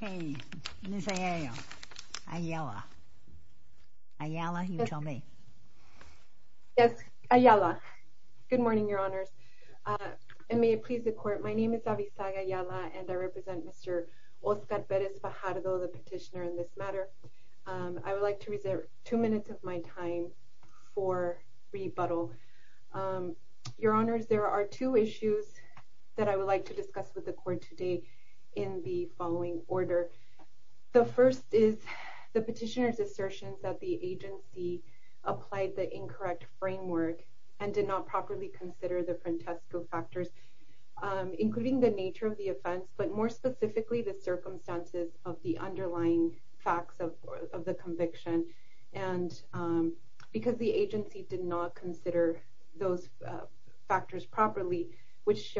Good morning, Your Honors, and may it please the Court, my name is Avizag Ayala and I represent Mr. Oscar Perez Fajardo, the petitioner in this matter. I would like to reserve two minutes of my time for rebuttal. Your Honors, there are two issues that I would like to discuss with the Court today in the following order. The first is the petitioner's assertion that the agency applied the incorrect framework and did not properly consider the Frantesco factors, including the nature of the offense, but more specifically the circumstances of the underlying facts of the conviction. And because the agency did not consider those factors properly, which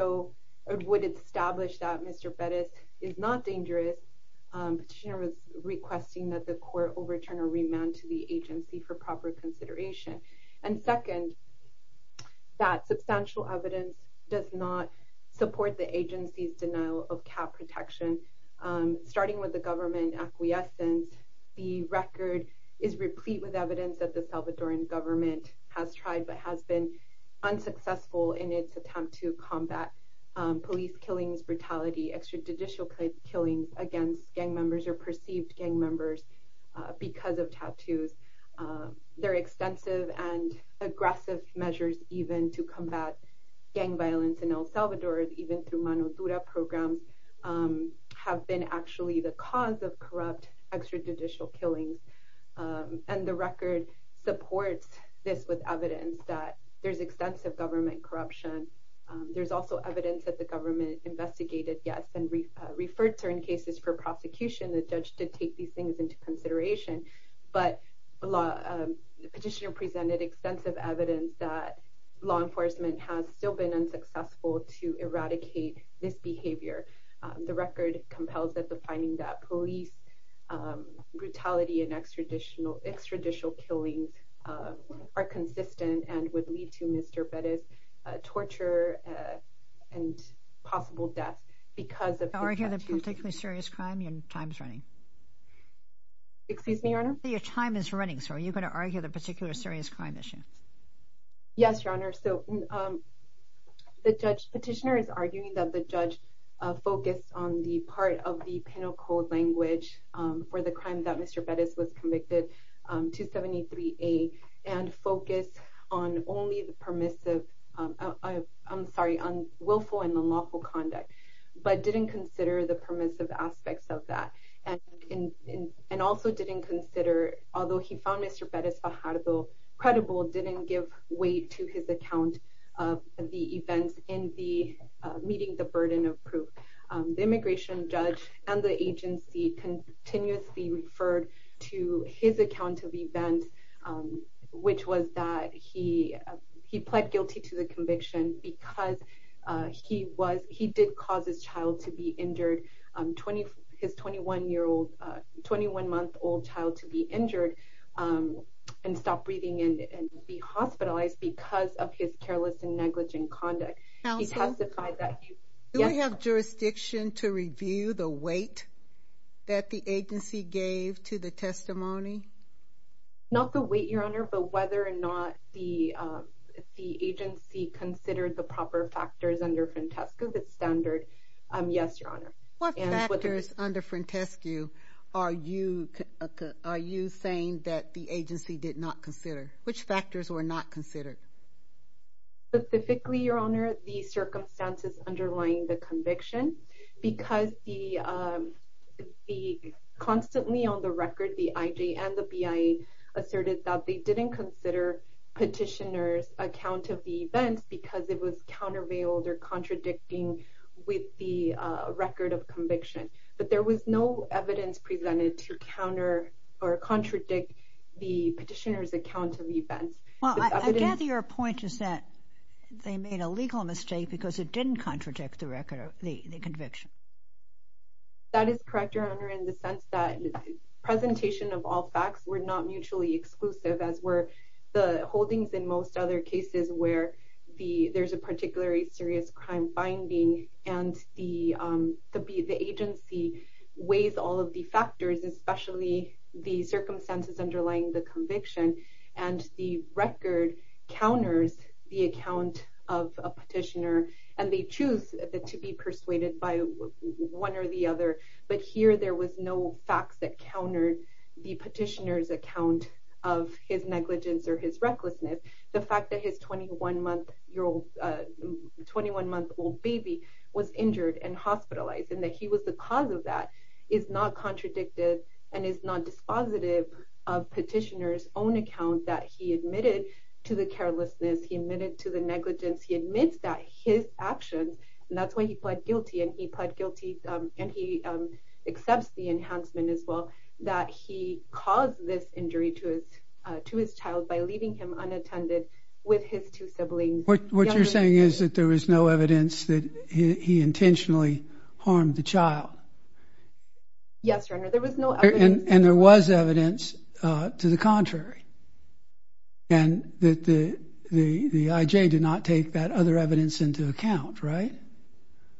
would establish that Mr. Perez is not dangerous, the petitioner was requesting that the Court overturn or remand to the agency for proper consideration. And second, that substantial evidence does not support the agency's denial of cap protection. Starting with the government acquiescence, the record is replete with evidence that the Salvadoran government has tried but has been unsuccessful in its attempt to combat police killings, brutality, extrajudicial killings against gang members or perceived gang members because of tattoos. Their extensive and aggressive measures even to combat gang violence in El Salvador, even through Manutura programs, have been actually the extensive government corruption. There's also evidence that the government investigated, yes, and referred certain cases for prosecution. The judge did take these things into consideration, but the petitioner presented extensive evidence that law enforcement has still been unsuccessful to eradicate this behavior. The record compels that the finding that police brutality and Mr. Perez's torture and possible death because of... You're arguing a particularly serious crime? Your time's running. Excuse me, Your Honor? Your time is running, so are you going to argue the particular serious crime issue? Yes, Your Honor. So, the judge, the petitioner is arguing that the judge focused on the part of the penal code language for the crime that Mr. Perez was convicted, 273A, and focused on only the permissive... I'm sorry, on willful and unlawful conduct, but didn't consider the permissive aspects of that, and also didn't consider... Although he found Mr. Perez Fajardo credible, didn't give weight to his account of the events in the meeting the burden of proof. The immigration judge and the agency continuously referred to his account of events, which was that he pled guilty to the conviction because he did cause his child to be injured, his 21-month-old child to be injured and stop breathing and be hospitalized because of his careless and negligent conduct. He testified that he... That the agency gave to the testimony? Not the weight, Your Honor, but whether or not the agency considered the proper factors under Frantescu, the standard. Yes, Your Honor. What factors under Frantescu are you saying that the agency did not consider? Which factors were not considered? Specifically, Your Honor, the the... Constantly on the record, the IJ and the BIA asserted that they didn't consider petitioner's account of the events because it was countervailed or contradicting with the record of conviction, but there was no evidence presented to counter or contradict the petitioner's account of events. Well, I gather your point is that they made a legal mistake because it correct, Your Honor, in the sense that the presentation of all facts were not mutually exclusive, as were the holdings in most other cases where there's a particularly serious crime binding and the agency weighs all of the factors, especially the circumstances underlying the conviction, and the record counters the account of a petitioner and they choose to be persuaded by one or the other, but here there was no facts that countered the petitioner's account of his negligence or his recklessness. The fact that his 21-month-old baby was injured and hospitalized and that he was the cause of that is not contradicted and is not dispositive of petitioner's own account that he admitted to the carelessness, he admitted to the negligence, he admits that his actions and that's why he pled guilty and he pled guilty and he accepts the enhancement as well that he caused this injury to his child by leaving him unattended with his two siblings. What you're saying is that there was no evidence that he intentionally harmed the child? Yes, Your Honor, there was no evidence. And there was evidence to the contrary and that the IJ did not take that other evidence into account, right?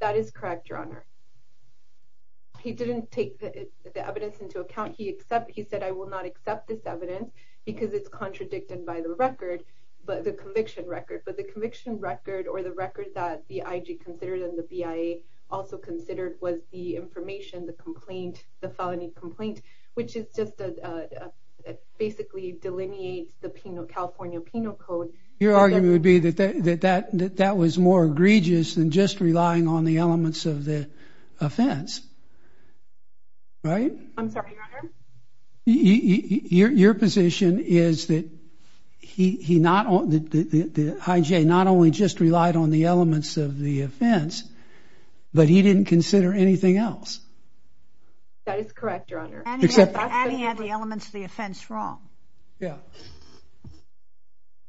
That is correct, Your Honor. He didn't take the evidence into account. He said, I will not accept this evidence because it's contradicted by the record, but the conviction record, but the conviction record or the record that the IJ considered and the BIA also considered was the information, the complaint, the felony complaint, which is just a basically delineates the California Penal Code. Your argument would be that that was more egregious than just relying on the elements of the offense, right? I'm sorry, Your Honor. Your position is that he not only, the IJ not only just relied on the elements of the offense, but he didn't consider anything else. That is correct, Your Honor. And he had the elements of the offense wrong. Yeah.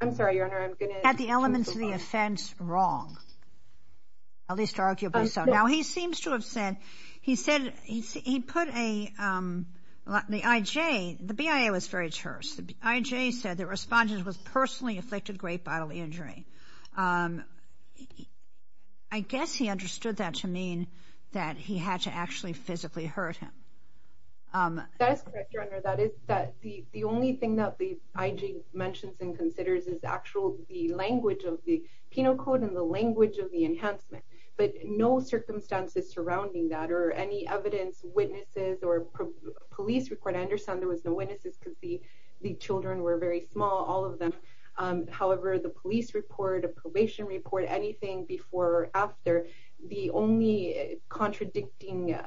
I'm sorry, Your Honor. He had the elements of the offense wrong, at least arguably so. Now, he seems to have said, he said he put a, the IJ, the BIA was very terse. The IJ said the respondent was personally afflicted great bodily injury. I guess he understood that to mean that he had to actually physically hurt him. That is correct, Your Honor. That is that the only thing that the IJ mentions and considers is actual, the language of the Penal Code and the language of the enhancement, but no circumstances surrounding that or any evidence, witnesses or police report. I understand there was no witnesses because the children were very small, all of them. However, the police report, a probation report, anything before or after, the only contradicting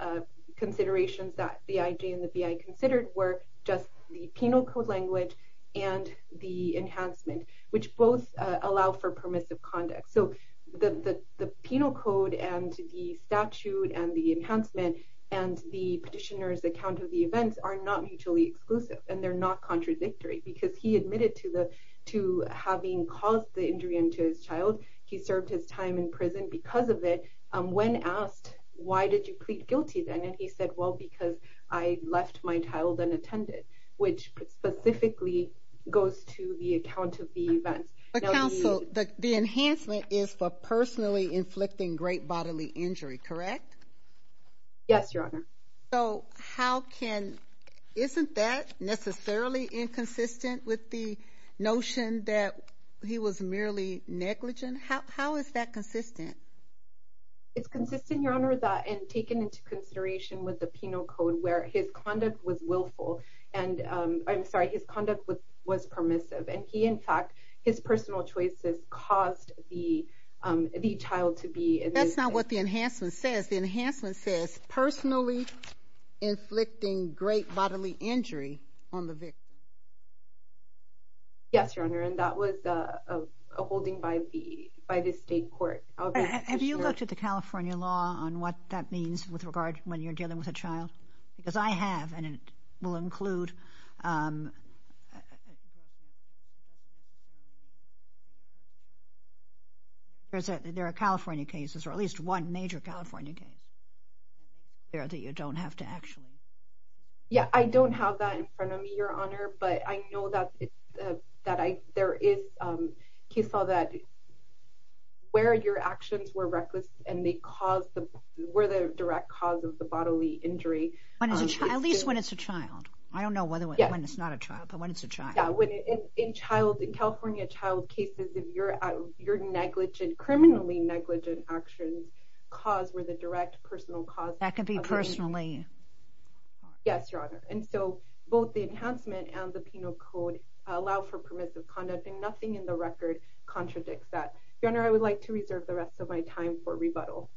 considerations that the IJ and the BIA considered were just the Penal Code language and the enhancement, which both allow for permissive conduct. So, the Penal Code and the statute and the enhancement and the petitioner's account of the events are not mutually exclusive and they're not contradictory because he admitted to the, to having caused the injury into his child. He served his time in prison because of it when asked, why did you plead guilty then? And he said, well, because I left my child unattended, which specifically goes to the account of the events. But counsel, the enhancement is for personally inflicting great bodily injury, correct? Yes, Your Honor. So, how can, isn't that necessarily inconsistent with the notion that he was merely negligent? How is that consistent? It's consistent, Your Honor, that and taken into consideration with the Penal Code where his conduct was willful and, I'm sorry, his conduct was permissive and he, in fact, his personal choices caused the child to be. That's not what the enhancement says. The enhancement says personally inflicting great bodily injury on the victim. Yes, Your Honor, and that was a holding by the state court. Have you looked at the California law on what that means with regard when you're dealing with a child? Because I have and it will include, there are California cases or at least one major California case there that you don't have to actually. Yeah, I don't have that in front of me, Your Honor, but I know that there is, he saw that where your actions were reckless and they caused the, were the direct cause of the bodily injury. At least when it's a child. I don't know whether when it's not a child, but when it's a child. Yeah, when in child, in California child cases, if you're negligent, criminally negligent actions cause where the direct personal cause. That could be personally. Yes, Your Honor, and so both the enhancement and the Penal Code allow for permissive conduct and nothing in the record contradicts that. Your Honor, I would like to turn it over to you.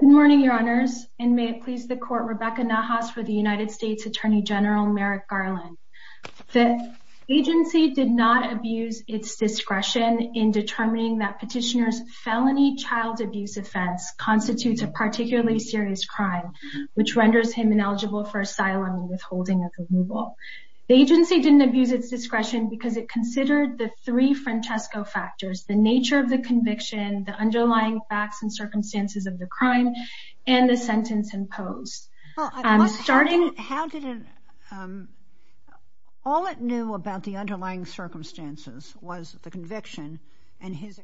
Good morning, Your Honors, and may it please the court, Rebecca Nahas for the United States Attorney General Merrick Garland. The agency did not abuse its discretion in determining that petitioner's felony child abuse offense constitutes a particularly serious crime, which renders him ineligible for asylum and withholding of removal. The agency didn't Francesco factors, the nature of the conviction, the underlying facts and circumstances of the crime, and the sentence imposed. Starting, how did it, all it knew about the underlying circumstances was the conviction and his,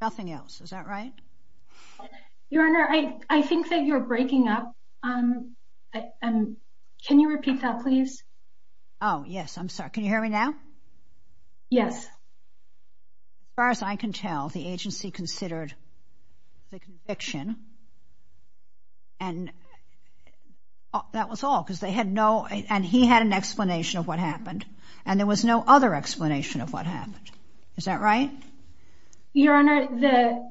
nothing else. Is that right? Your Honor, I think that you're breaking up. Can you repeat that, please? Oh, yes, I'm sorry. Can you hear me now? Yes. As far as I can tell, the agency considered the conviction and that was all because they had no, and he had an explanation of what happened, and there was no other explanation of what happened. Is that right? Your Honor, the,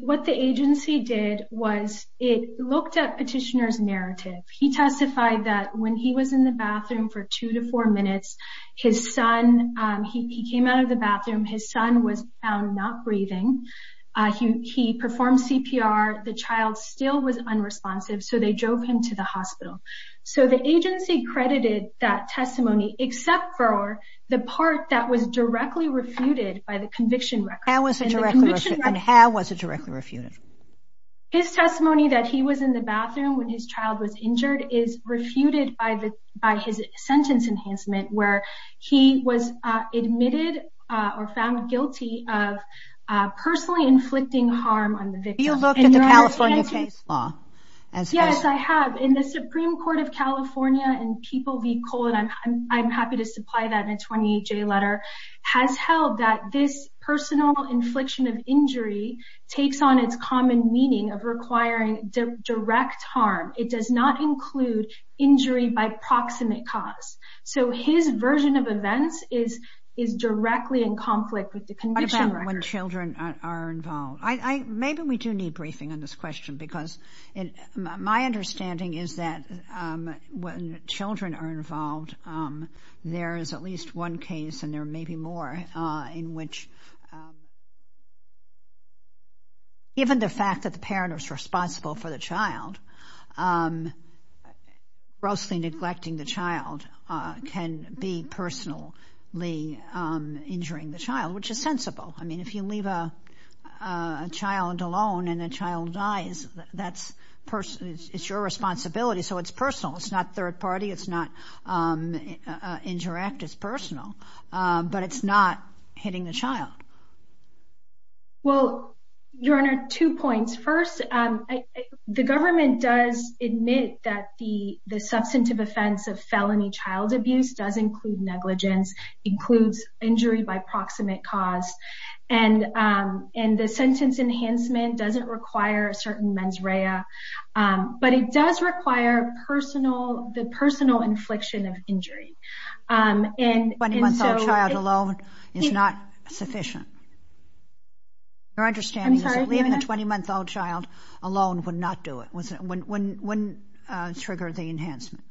what the agency did was it looked at petitioner's narrative. He testified that when he was in the bathroom for two to four minutes, his son, he came out of the bathroom, his son was found not breathing. He performed CPR, the child still was unresponsive, so they drove him to the hospital. So the agency credited that testimony except for the part that was directly refuted by the conviction record. How was it directly, and how was it directly refuted? His testimony that he was in the bathroom when his child was injured is refuted by the, by his sentence enhancement, where he was admitted or found guilty of personally inflicting harm on the victim. Do you look at the California case law? Yes, I have. In the Supreme Court of California and People v. Cole, and I'm happy to supply that in a 28-J letter, has held that this personal infliction of injury takes on its common meaning of requiring direct harm. It does not include injury by proximate cause. So his version of events is, is directly in conflict with the conviction record. What about when children are involved? I, I, maybe we do need briefing on this children are involved. There is at least one case, and there may be more, in which given the fact that the parent is responsible for the child, grossly neglecting the child can be personally injuring the child, which is sensible. I mean, if you leave a child alone and a child dies, that's, it's your responsibility, so it's personal. It's not third-party, it's not interact, it's personal, but it's not hitting the child. Well, Your Honor, two points. First, the government does admit that the, the substantive offense of felony child abuse does include negligence, includes injury by proximate cause, and, and the sentence enhancement doesn't require a certain mens rea, but it does require personal, the personal infliction of injury, and, and so... A 20-month-old child alone is not sufficient. Your understanding is that leaving a 20-month-old child alone would not do it, wouldn't, wouldn't trigger the enhancement.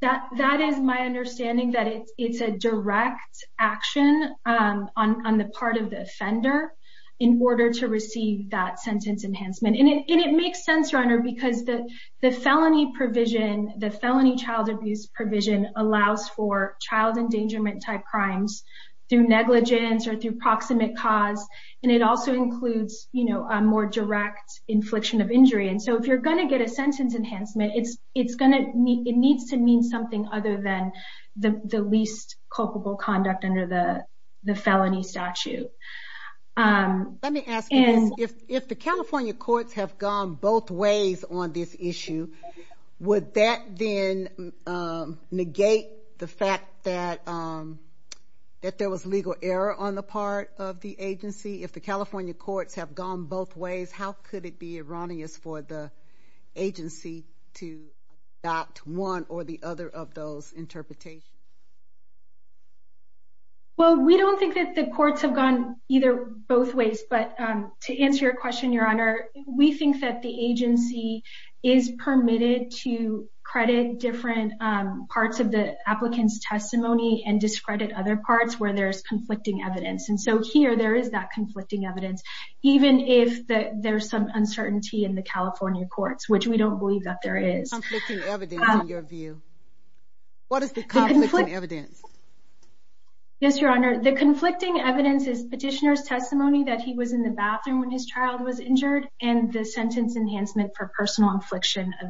That, that is my understanding, that it's, it's a direct action on, on the part of the offender in order to receive that sentence enhancement, and it makes sense, Your Honor, because the, the felony provision, the felony child abuse provision allows for child endangerment-type crimes through negligence or through proximate cause, and it also includes, you know, a more direct infliction of injury, and so if you're going to get a sentence enhancement, it's, it's going to, it needs to mean something other than the, the least culpable conduct under the, the felony statute. Let me ask you this. If, if the California courts have gone both ways on this issue, would that then negate the fact that, that there was legal error on the part of the agency? If the California courts have gone both ways, how could it be erroneous for the interpretation? Well, we don't think that the courts have gone either, both ways, but to answer your question, Your Honor, we think that the agency is permitted to credit different parts of the applicant's testimony and discredit other parts where there's conflicting evidence, and so here there is that conflicting evidence, even if there's some uncertainty in the California courts, which we don't believe that there is. Conflicting evidence, in your view. What is the conflicting evidence? Yes, Your Honor, the conflicting evidence is petitioner's testimony that he was in the bathroom when his child was injured and the sentence enhancement for personal infliction of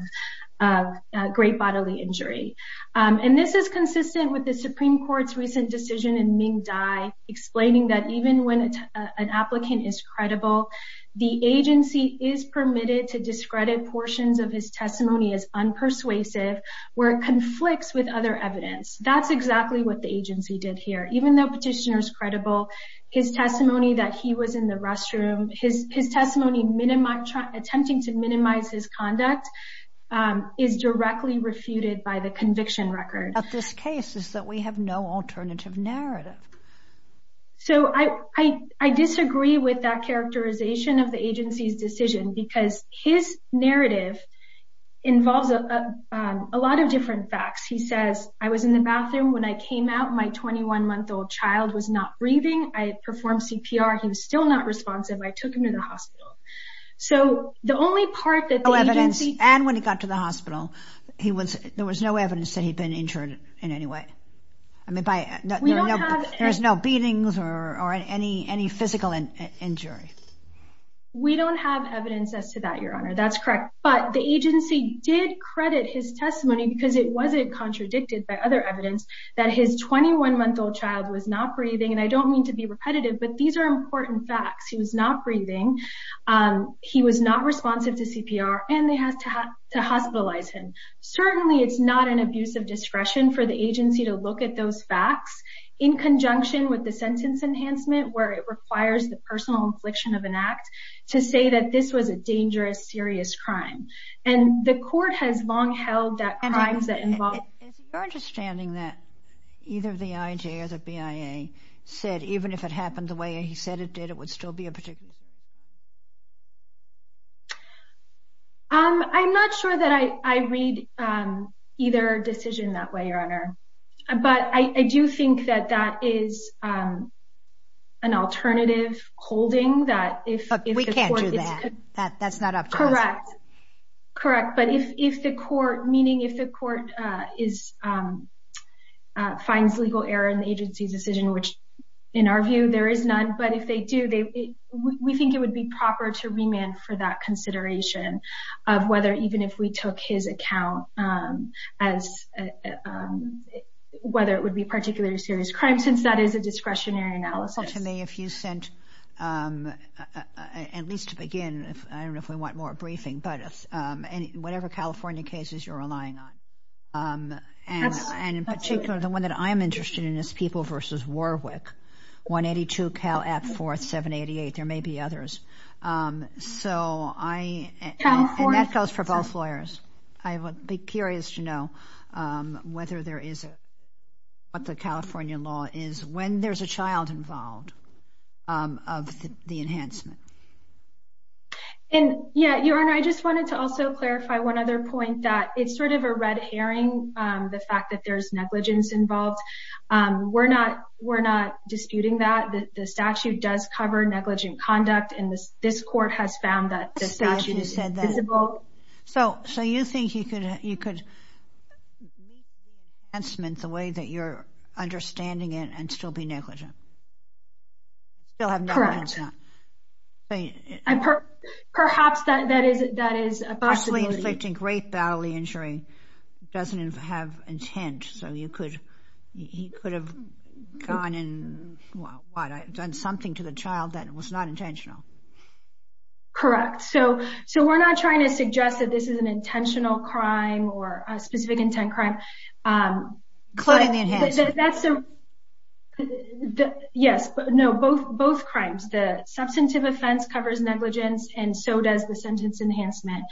great bodily injury, and this is consistent with the Supreme Court's recent decision in Ming Dai explaining that even when an applicant is credible, the agency is permitted to discredit portions of his testimony as unpersuasive, where it conflicts with other evidence. That's exactly what the agency did here. Even though petitioner's credible, his testimony that he was in the restroom, his testimony attempting to minimize his conduct is directly refuted by the conviction record. But this case is that we have no alternative narrative. So I disagree with that characterization of the agency's decision because his narrative involves a lot of different facts. He says, I was in the bathroom when I came out. My 21-month-old child was not breathing. I performed CPR. He was still not responsive. I took him to the hospital. So the only part that the agency... No evidence, and when he got to the hospital, there was no evidence that he'd been injured in any way. I mean, there's no beatings or any physical injury. We don't have evidence as to that, Your Honor. That's correct. But the agency did credit his testimony because it wasn't contradicted by other evidence that his 21-month-old child was not breathing. And I don't mean to be repetitive, but these are important facts. He was not breathing. He was not responsive to CPR, and they had to hospitalize him. Certainly, it's not an abuse of discretion for the agency to look at those facts in conjunction with the sentence enhancement where it requires the personal infliction of an act to say that this was a dangerous, serious crime. And the court has long held that crimes that involve... Is it your understanding that either the IJA or the BIA said even if it happened the way he said it did, it would still be a particular... I'm not sure that I read either decision that way, Your Honor. But I do think that that is an alternative holding that if... We can't do that. That's not up to us. Correct. But if the court, meaning if the court finds legal error in the agency's decision, which in our view there is none, but if they do, we think it would be proper to remand for that consideration of whether even if we took his account as whether it would be particularly serious crime since that is a discretionary analysis. Tell me if you sent... At least to begin, I don't know if we want more briefing, but whatever California cases you're relying on. And in particular, the one that I'm interested in is People v. Warwick, 182 Cal. App. 4788. There may be others. So I... And that goes for both lawyers. I would be curious to know whether there is a... What the California law is when there's a child involved of the enhancement. And yeah, Your Honor, I just wanted to also clarify one other point that it's sort of a disputing that the statute does cover negligent conduct, and this court has found that the statute is visible. So you think you could make the enhancement the way that you're understanding it and still be negligent? Still have no... Correct. Perhaps that is a possibility. Great bodily injury doesn't have intent. So you could... He could have gone and... What? Done something to the child that was not intentional. Correct. So we're not trying to suggest that this is an intentional crime or a specific intent crime. Including the enhancement. Yes. No. Both crimes. The substantive offense covers negligence, and so does the sentence enhancement.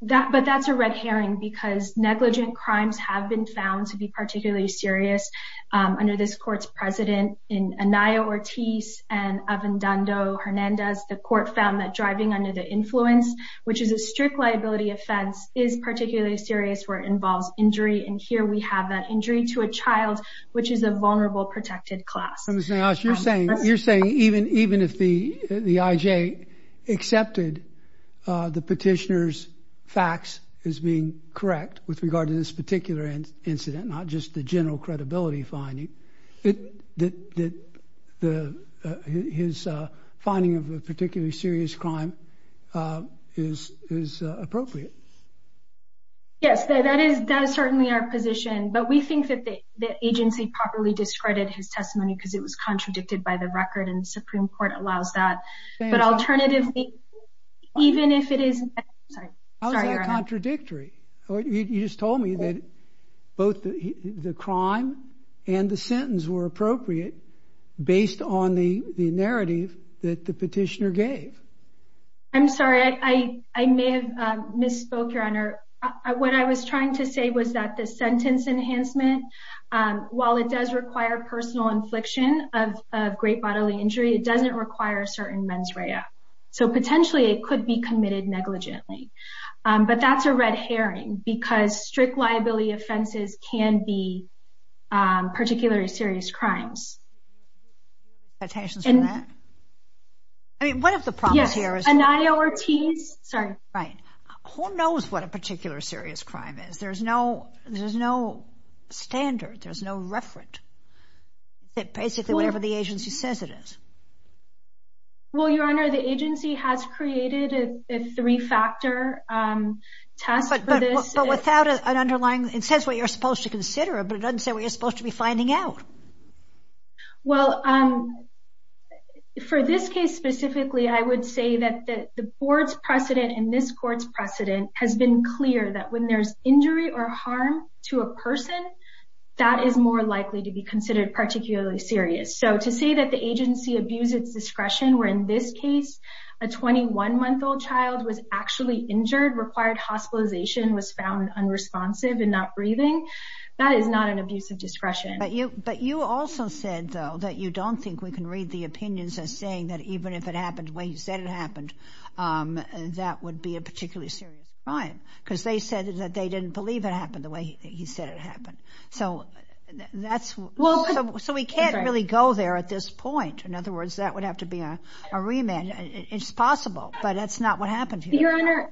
But that's a red herring because negligent crimes have been found to be particularly serious under this court's president, Anaya Ortiz and Avendando Hernandez. The court found that driving under the influence, which is a strict liability offense, is particularly serious where it involves injury. And here we have that injury to a child, which is a vulnerable, protected class. Ms. Nayash, you're saying even if the IJ accepted the petitioner's facts as being correct with regard to this particular incident, not just the general credibility finding, his finding of a particularly serious crime is appropriate? Yes. That is certainly our position. But we think that the agency properly discredited his testimony because it was contradicted by the record, and the Supreme Court allows that. But alternatively, even if it is... How is that contradictory? You just told me that both the crime and the sentence were appropriate based on the narrative that the petitioner gave. I'm sorry. I may have misspoke, Your Honor. What I was trying to say was that the sentence enhancement, while it does require personal infliction of great bodily injury, it doesn't require certain mens rea. So potentially, it could be committed negligently. But that's a red herring because strict liability offenses can be particularly serious crimes. Do you have any expectations from that? I mean, one of the problems here is... Yes. Ananya Ortiz. Sorry. Right. Who knows what a particular serious crime is? There's no standard. There's no referent. It's basically whatever the agency says it is. Well, Your Honor, the agency has created a three-factor test for this. But without an underlying... It says what you're supposed to say. Well, for this case specifically, I would say that the board's precedent and this court's precedent has been clear that when there's injury or harm to a person, that is more likely to be considered particularly serious. So to say that the agency abused its discretion, where in this case, a 21-month-old child was actually injured, required hospitalization, was found unresponsive and not breathing, that is not an abuse of discretion. But you also said, though, that you don't think we can read the opinions as saying that even if it happened the way you said it happened, that would be a particularly serious crime. Because they said that they didn't believe it happened the way he said it happened. So we can't really go there at this point. In other words, that would have to be a remand. It's possible, but that's not what happened here.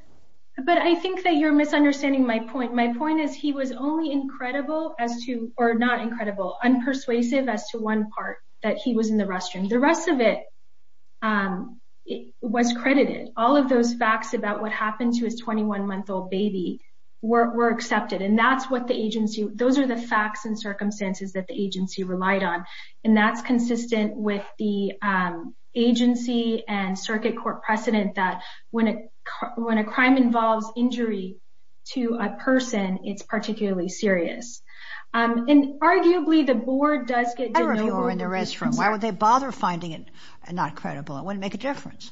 But I think that you're misunderstanding my point. My point is he was only unpersuasive as to one part, that he was in the restroom. The rest of it was credited. All of those facts about what happened to his 21-month-old baby were accepted. Those are the facts and circumstances that the agency relied on. That's consistent with the agency and circuit court precedent that when a crime involves injury to a person, it's particularly serious. Arguably, the board does get to know who- I don't know if he was in the restroom. Why would they bother finding it not credible? It wouldn't make a difference.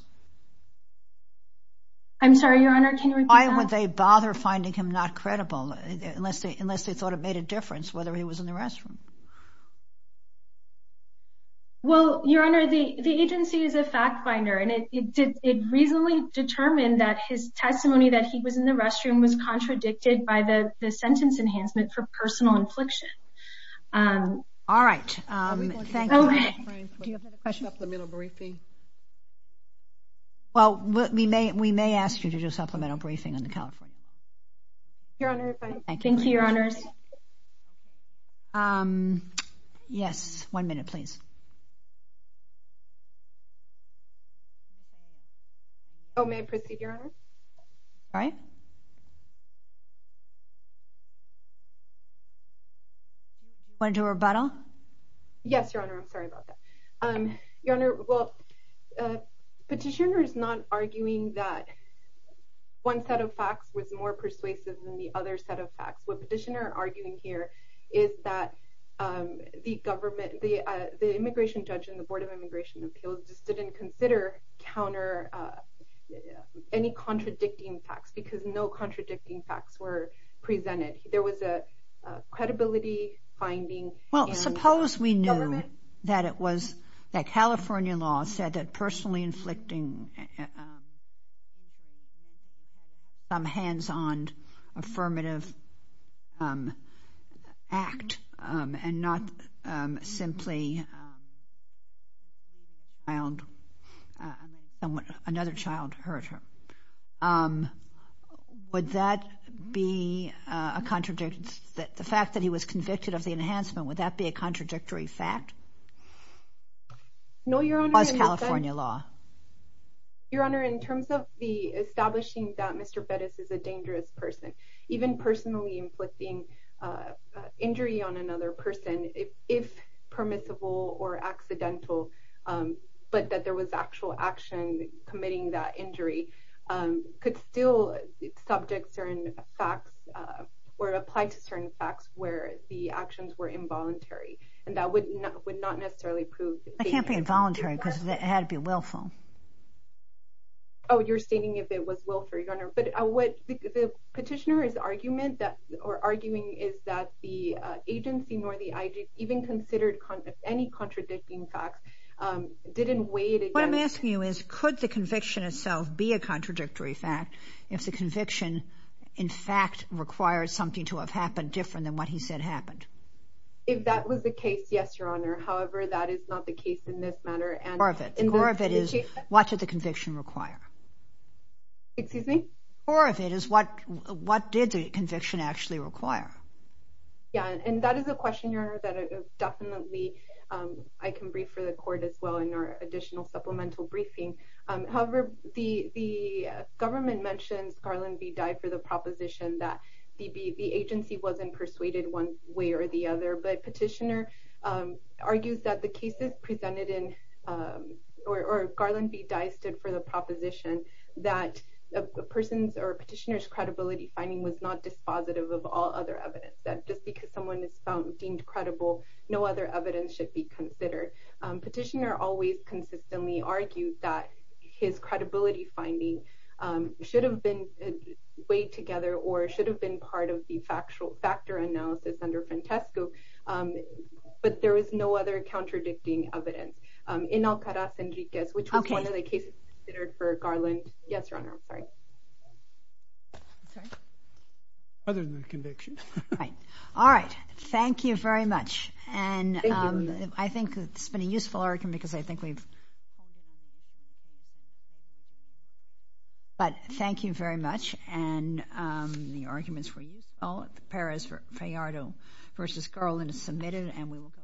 I'm sorry, Your Honor, can you repeat that? Why would they bother finding him not credible, unless they thought it made a difference whether he was in the restroom? Well, Your Honor, the agency is a fact finder, and it reasonably determined that his testimony that he was in the restroom was contradicted by the sentence enhancement for personal infliction. All right. Thank you. Do you have another question? Supplemental briefing. Well, we may ask you to do a supplemental briefing in California. Your Honor, if I- Thank you, Your Honors. Yes. One minute, please. Oh, may I proceed, Your Honor? All right. Want to do a rebuttal? Yes, Your Honor. I'm sorry about that. Your Honor, well, Petitioner is not arguing that one set of facts was more persuasive than the other set of facts. What Petitioner is arguing here is that the immigration judge and the Board of Immigration Appeals just didn't consider any contradicting facts, because no contradicting facts were presented. There was a credibility finding and- Well, suppose we knew that California law said that personally inflicting a- some hands-on affirmative act and not simply a child- another child hurt her. Would that be a contradictory- the fact that he was convicted of the enhancement, would that be a contradictory fact? No, Your Honor- Was California law? Your Honor, in terms of the establishing that Mr. Bettis is a dangerous person, even personally inflicting injury on another person, if permissible or accidental, but that there was actual action committing that injury, could still subject certain facts or apply to certain facts where the actions were involuntary, and that would not necessarily prove- That can't be involuntary, because it had to be willful. Oh, you're stating if it was willful, Your Honor, but what the Petitioner is argument that- or arguing is that the agency nor the IG even considered any contradicting facts, didn't weigh it against- What I'm asking you is, could the conviction itself be a contradictory fact if the conviction in fact requires something to have happened different than what he said happened? If that was the case, yes, Your Honor. However, that is not the case in this matter and- What did the conviction require? Excuse me? Or if it is, what did the conviction actually require? Yeah, and that is a question, Your Honor, that definitely I can brief for the Court as well in our additional supplemental briefing. However, the government mentions Garland v. Dye for the proposition that the agency wasn't persuaded one way or the other, but Petitioner argues that the Garland v. Dye stood for the proposition that a person's or Petitioner's credibility finding was not dispositive of all other evidence, that just because someone is deemed credible, no other evidence should be considered. Petitioner always consistently argued that his credibility finding should have been weighed together or should have been part of the factor analysis under Frantesco, but there was no other contradicting evidence. In Alcaraz and Riquez, which was one of the cases considered for Garland- Yes, Your Honor, I'm sorry. Other than the conviction. Right. All right. Thank you very much. And I think it's been a useful argument because I think we've- But thank you very much, and the arguments were useful. Perez-Fallardo v. Garland is submitted, and we will go to- Thank you.